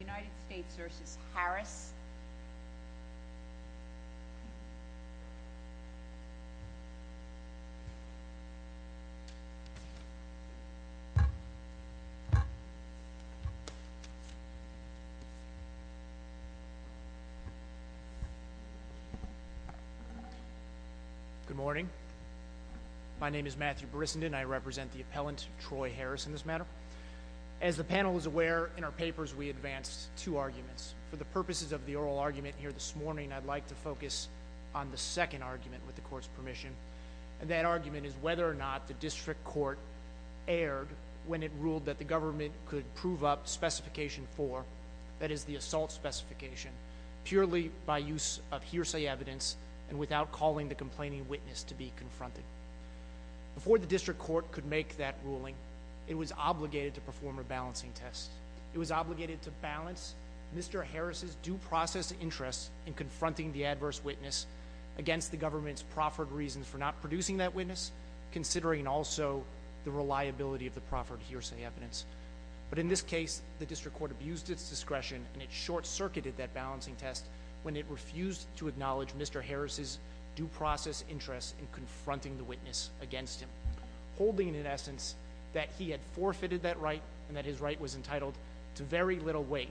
Good morning. My name is Matthew Brissenden and I represent the appellant, Troy Harris, in this matter. As the panel is aware, in our papers we advanced two arguments. For the purposes of the oral argument here this morning, I'd like to focus on the second argument with the court's permission. That argument is whether or not the district court erred when it ruled that the government could prove up specification four, that is the assault specification, purely by use of hearsay evidence and without calling the complaining witness to be confronted. Before the district court could make that ruling, it was obligated to perform a balancing test. It was obligated to balance Mr. Harris's due process interest in confronting the adverse witness against the government's proffered reasons for not producing that witness, considering also the reliability of the proffered hearsay evidence. But in this case, the district court abused its discretion and it short-circuited that balancing test when it refused to acknowledge Mr. Harris's due process interest in confronting the witness against him, holding in essence that he had forfeited that right and that his right was entitled to very little weight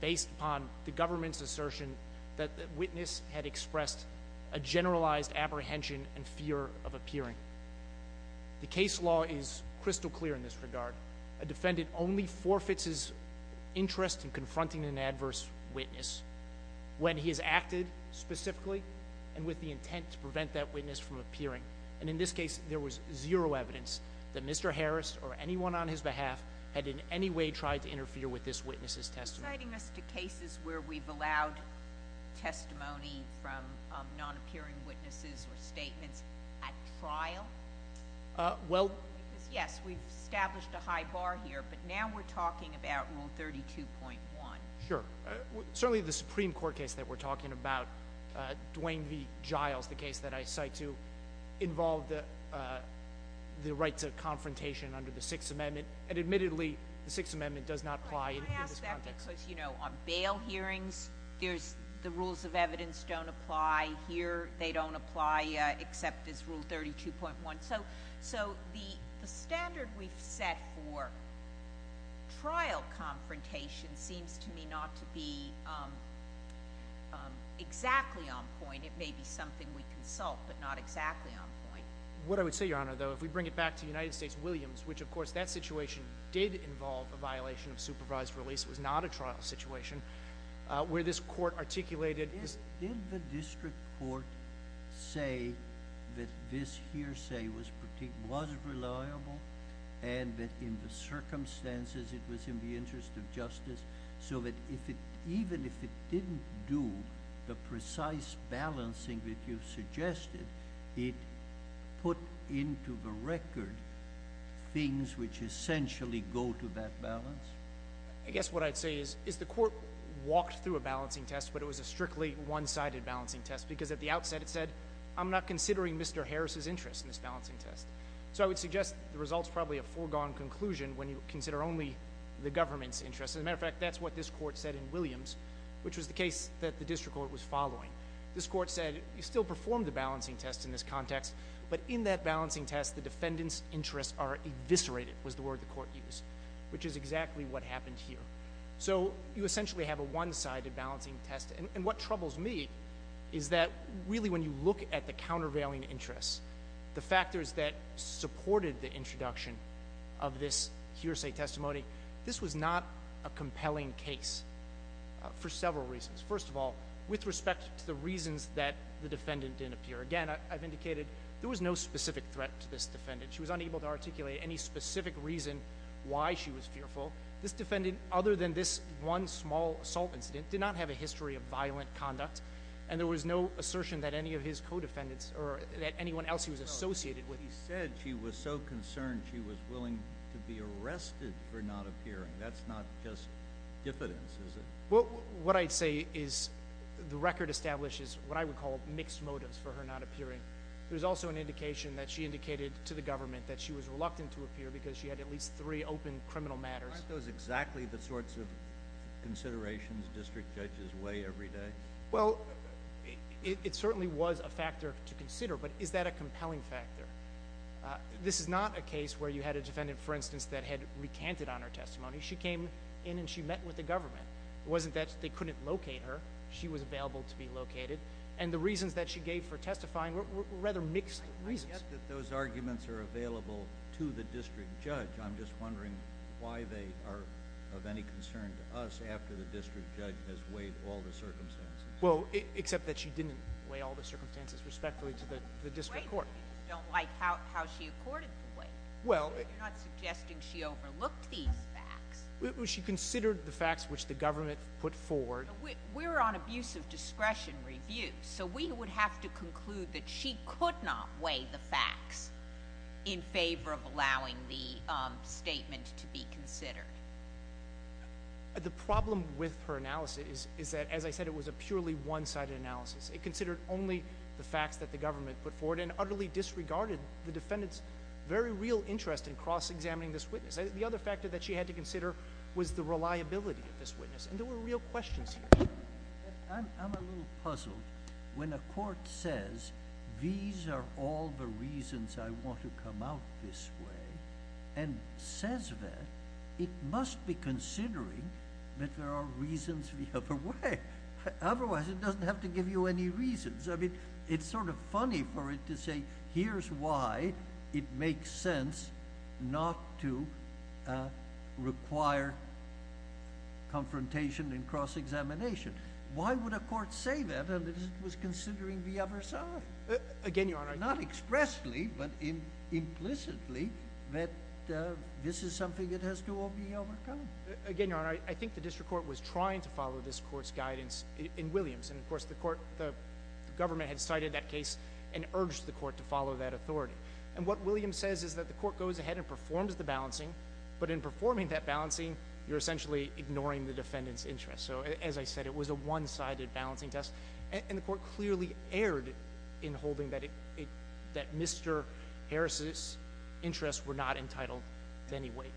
based upon the government's assertion that the witness had expressed a generalized apprehension and fear of appearing. The case law is crystal clear in this regard. A defendant only forfeits his interest in confronting an adverse witness when he has and with the intent to prevent that witness from appearing. And in this case, there was zero evidence that Mr. Harris or anyone on his behalf had in any way tried to interfere with this witness's testimony. Citing us to cases where we've allowed testimony from non-appearing witnesses or statements at trial, because yes, we've established a high bar here, but now we're talking about Rule 32.1. Sure. Certainly, the Supreme Court case that we're talking about, Dwayne v. Giles, the case that I cite to involve the right to confrontation under the Sixth Amendment, and admittedly, the Sixth Amendment does not apply in this context. Can I ask that because, you know, on bail hearings, the rules of evidence don't apply here. They don't apply except this Rule 32.1. So the standard we've set for trial confrontation seems to me not to be exactly on point. It may be something we consult, but not exactly on point. What I would say, Your Honor, though, if we bring it back to United States Williams, which of course that situation did involve a violation of supervised release. It was not a trial situation where this court articulated— Did the district court say that this hearsay was reliable and that in the circumstances it was in the interest of justice, so that even if it didn't do the precise balancing that you've suggested, it put into the record things which essentially go to that balance? I guess what I'd say is the court walked through a balancing test, but it was a strictly one-sided balancing test because at the outset it said, I'm not considering Mr. Harris's interest in this balancing test. So I would suggest the result's probably a foregone conclusion when you consider only the government's interest. As a matter of fact, that's what this court said in Williams, which was the case that the district court was following. This court said, you still perform the balancing test in this context, but in that balancing test the defendant's interests are eviscerated, was the word the court used, which is exactly what happened here. So you essentially have a one-sided balancing test, and what troubles me is that really when you look at the countervailing interests, the factors that supported the introduction of this hearsay testimony, this was not a compelling case for several reasons. First of all, with respect to the reasons that the defendant didn't appear. Again, I've indicated there was no specific threat to this defendant. She was unable to articulate any specific reason why she was fearful. This defendant, other than this one small assault incident, did not have a history of violent conduct, and there was no assertion that any of his co-defendants or that anyone else he was associated with. He said she was so concerned she was willing to be arrested for not appearing. That's not just diffidence, is it? What I'd say is the record establishes what I would call mixed motives for her not appearing. There's also an indication that she indicated to the government that she was reluctant to testify. Are those exactly the sorts of considerations district judges weigh every day? It certainly was a factor to consider, but is that a compelling factor? This is not a case where you had a defendant, for instance, that had recanted on her testimony. She came in and she met with the government. It wasn't that they couldn't locate her. She was available to be located, and the reasons that she gave for testifying were rather mixed reasons. I get that those arguments are available to the district judge. I'm just wondering why they are of any concern to us after the district judge has weighed all the circumstances. Well, except that she didn't weigh all the circumstances respectfully to the district court. You don't like how she accorded the weight. You're not suggesting she overlooked these facts. She considered the facts which the government put forward. We're on abuse of discretion review, so we would have to conclude that she could not weigh the facts in favor of allowing the statement to be considered. The problem with her analysis is that, as I said, it was a purely one-sided analysis. It considered only the facts that the government put forward and utterly disregarded the defendant's very real interest in cross-examining this witness. The other factor that she had to consider was the reliability of this witness, and there were real questions here. I'm a little puzzled. When a court says, these are all the reasons I want to come out this way, and says that, it must be considering that there are reasons the other way, otherwise it doesn't have to give you any reasons. I mean, it's sort of funny for it to say, here's why it makes sense not to require confrontation in cross-examination. Why would a court say that, and it was considering the other side? Again, Your Honor— Not expressly, but implicitly, that this is something that has to all be overcome. Again, Your Honor, I think the district court was trying to follow this court's guidance in Williams. And, of course, the government had cited that case and urged the court to follow that authority. And what Williams says is that the court goes ahead and performs the balancing, but in performing that balancing, you're essentially ignoring the defendant's interest. So, as I said, it was a one-sided balancing test, and the court clearly erred in holding that Mr. Harris's interests were not entitled to any weight.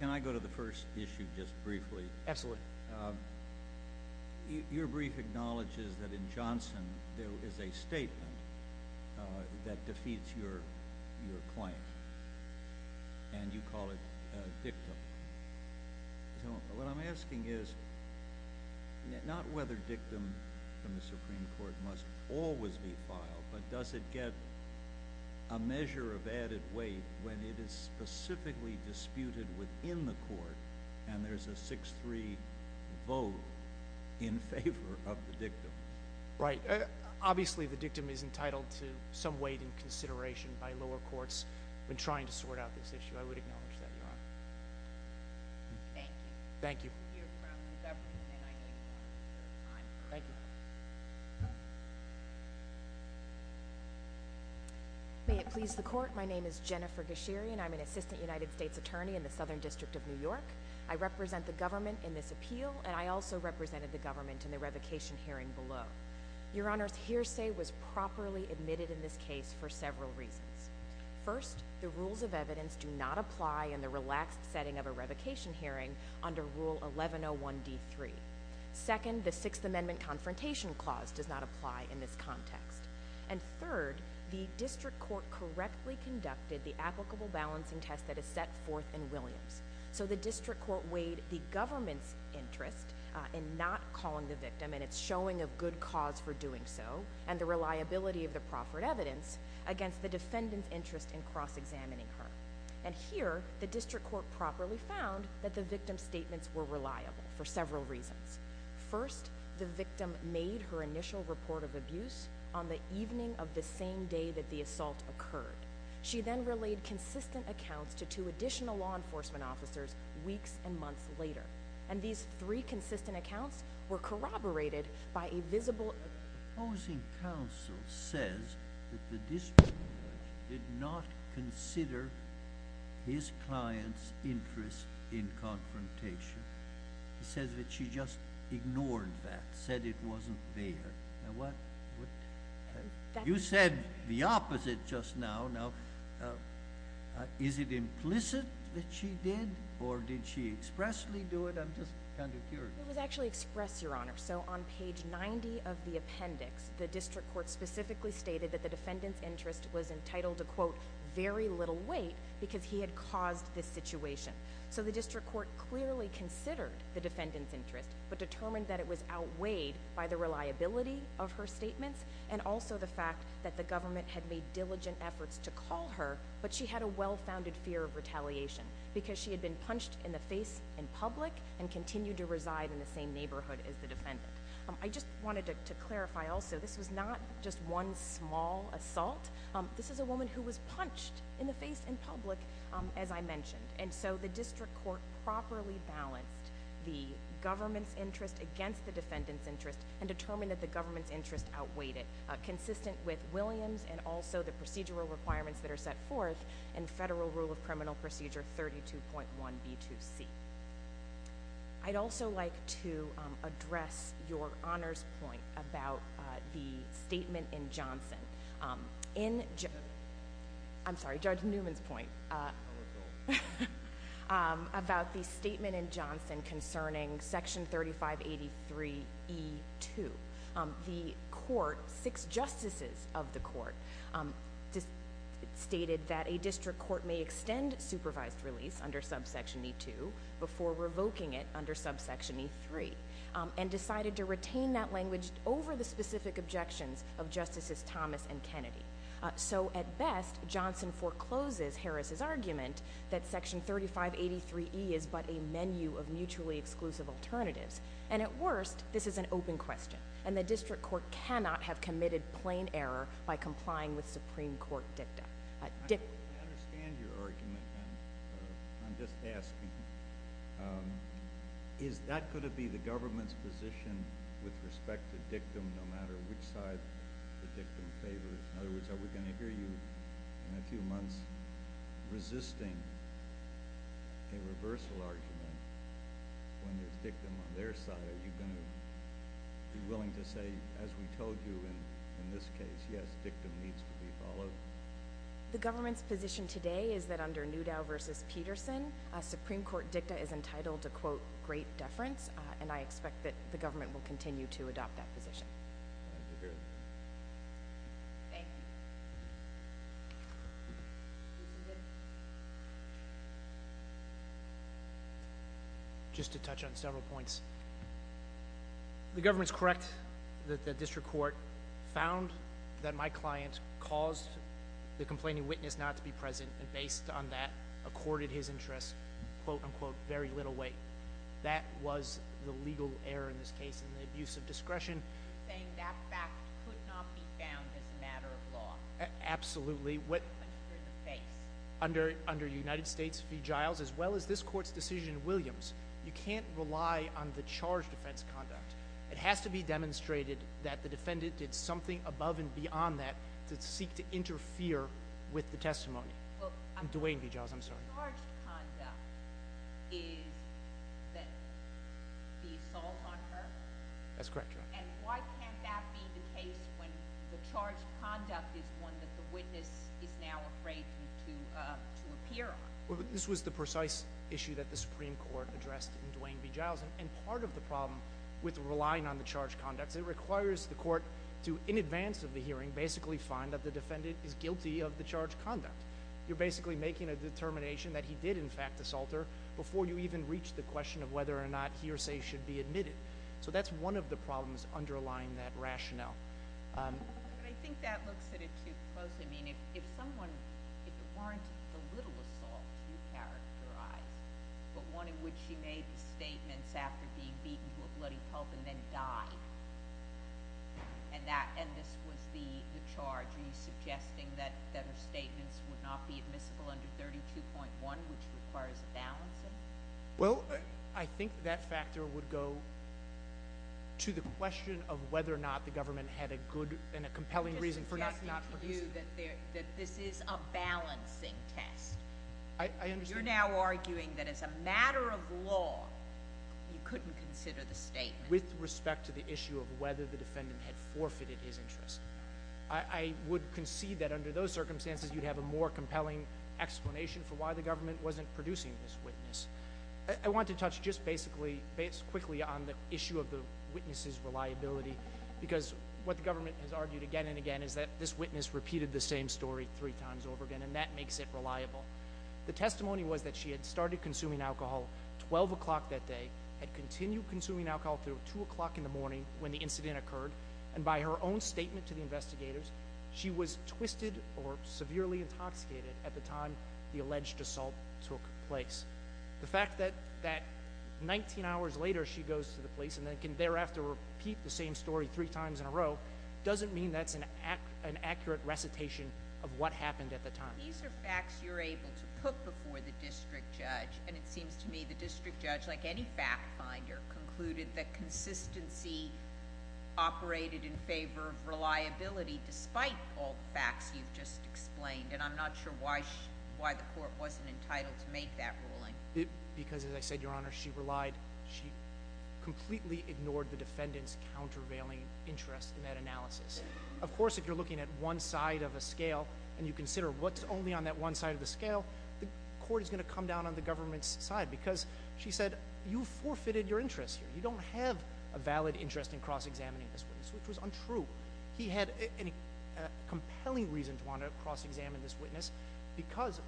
Can I go to the first issue just briefly? Absolutely. Your brief acknowledges that in Johnson, there is a statement that defeats your claim, and you call it a dictum. What I'm asking is, not whether dictum from the Supreme Court must always be filed, but does it get a measure of added weight when it is specifically disputed within the court and there's a 6-3 vote in favor of the dictum? Right. Obviously, the dictum is entitled to some weight and consideration by lower courts when trying to sort out this issue. I would acknowledge that, Your Honor. Thank you. Thank you. You're from the government, and I think you're a good time. Thank you. May it please the court, my name is Jennifer Gashiri, and I'm an assistant United States attorney in the Southern District of New York. I represent the government in this appeal, and I also represented the government in the revocation hearing below. Your Honor's hearsay was properly admitted in this case for several reasons. First, the rules of evidence do not apply in the relaxed setting of a revocation hearing under Rule 1101D3. Second, the Sixth Amendment Confrontation Clause does not apply in this context. And third, the district court correctly conducted the applicable balancing test that is set forth in Williams. So the district court weighed the government's interest in not calling the dictum and its showing of good cause for doing so, and the reliability of the proffered evidence, against the defendant's interest in cross-examining her. And here, the district court properly found that the victim's statements were reliable for several reasons. First, the victim made her initial report of abuse on the evening of the same day that the assault occurred. She then relayed consistent accounts to two additional law enforcement officers weeks and months later. And these three consistent accounts were corroborated by a visible... The opposing counsel says that the district court did not consider his client's interest in confrontation. He says that she just ignored that, said it wasn't there. You said the opposite just now. Now, is it implicit that she did, or did she expressly do it? I'm just kind of curious. It was actually expressed, Your Honor. So on page 90 of the appendix, the district court specifically stated that the defendant's interest was entitled to, quote, very little weight because he had caused this situation. So the district court clearly considered the defendant's interest, but determined that it was outweighed by the reliability of her statements, and also the fact that the government had made diligent efforts to call her, but she had a well-founded fear of retaliation because she had been punched in the face in public and continued to reside in the same I just wanted to clarify also, this was not just one small assault. This is a woman who was punched in the face in public, as I mentioned. And so the district court properly balanced the government's interest against the defendant's interest and determined that the government's interest outweighed it, consistent with Williams and also the procedural requirements that are set forth in Federal Rule of Criminal Procedure 32.1b2c. I'd also like to address Your Honor's point about the statement in Johnson. In Johnson, I'm sorry, Judge Newman's point, about the statement in Johnson concerning Section 3583e2, the court, six justices of the court, stated that a district court may revoke Section 3583e2 before revoking it under subsection e3, and decided to retain that language over the specific objections of Justices Thomas and Kennedy. So, at best, Johnson forecloses Harris's argument that Section 3583e is but a menu of mutually exclusive alternatives, and at worst, this is an open question, and the district court cannot have committed plain error by complying with Supreme Court dicta. I understand your argument, and I'm just asking, is that going to be the government's position with respect to dictum, no matter which side the dictum favors? In other words, are we going to hear you in a few months resisting a reversal argument when there's dictum on their side? Are you going to be willing to say, as we told you in this case, yes, dictum needs to be followed? The government's position today is that under Newdow v. Peterson, a Supreme Court dicta is entitled to, quote, great deference, and I expect that the government will continue to adopt that position. Thank you. Just to touch on several points, the government's correct that the district court found that my client caused the complaining witness not to be present, and based on that, accorded his interest, quote, unquote, very little weight. That was the legal error in this case in the abuse of discretion. You're saying that fact could not be found as a matter of law? Absolutely. But you're in the face. Under United States v. Giles, as well as this court's decision in Williams, you can't rely on the charge defense conduct. It has to be demonstrated that the defendant did something above and beyond that to seek to interfere with the testimony. Duane v. Giles, I'm sorry. The charge conduct is the assault on her? That's correct, Your Honor. And why can't that be the case when the charge conduct is one that the witness is now afraid to appear on? This was the precise issue that the Supreme Court addressed in Duane v. Giles, and part of the problem with relying on the charge conducts, it requires the court to, in advance of the hearing, basically find that the defendant is guilty of the charge conduct. You're basically making a determination that he did, in fact, assault her before you even reach the question of whether or not he or she should be admitted. So that's one of the problems underlying that rationale. But I think that looks at it too closely. I mean, if someone, if there weren't a little assault to characterize, but one in which she made the statements after being beaten to a bloody pulp and then died, and this was the charge, are you suggesting that her statements would not be admissible under 32.1, which requires a balancing? Well, I think that factor would go to the question of whether or not the government had a good and a compelling reason for not producing. I'm just suggesting to you that this is a balancing test. I understand. You're now arguing that as a matter of law, you couldn't consider the statement. With respect to the issue of whether the defendant had forfeited his interest. I would concede that under those circumstances, you'd have a more compelling explanation for why the government wasn't producing this witness. I want to touch just basically, quickly, on the issue of the witness's reliability, because what the government has argued again and again is that this witness repeated the same story three times over again, and that makes it reliable. The testimony was that she had started consuming alcohol at 12 o'clock that day, had continued consuming alcohol until 2 o'clock in the morning when the incident occurred, and by her own statement to the investigators, she was twisted or severely intoxicated at the time the alleged assault took place. The fact that 19 hours later she goes to the police and then can thereafter repeat the same story three times in a row doesn't mean that's an accurate recitation of what happened at the time. These are facts you're able to put before the district judge, and it seems to me the district judge, like any fact finder, concluded that consistency operated in favor of reliability despite all the facts you've just explained, and I'm not sure why the court wasn't entitled to make that ruling. Because, as I said, Your Honor, she completely ignored the defendant's countervailing interest in that analysis. Of course, if you're looking at one side of a scale and you consider what's only on that one side of the scale, the court is going to come down on the government's side because, she said, you've forfeited your interest here. You don't have a valid interest in cross-examining this witness, which was untrue. He had a compelling reason to want to cross-examine this witness because,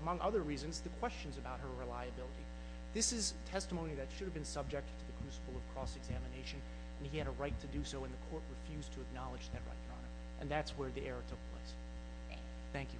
among other reasons, the questions about her reliability. This is testimony that should have been subjected to the principle of cross-examination, and he had a right to do so, and the court refused to acknowledge that right, Your Honor. And that's where the error took place. Thank you.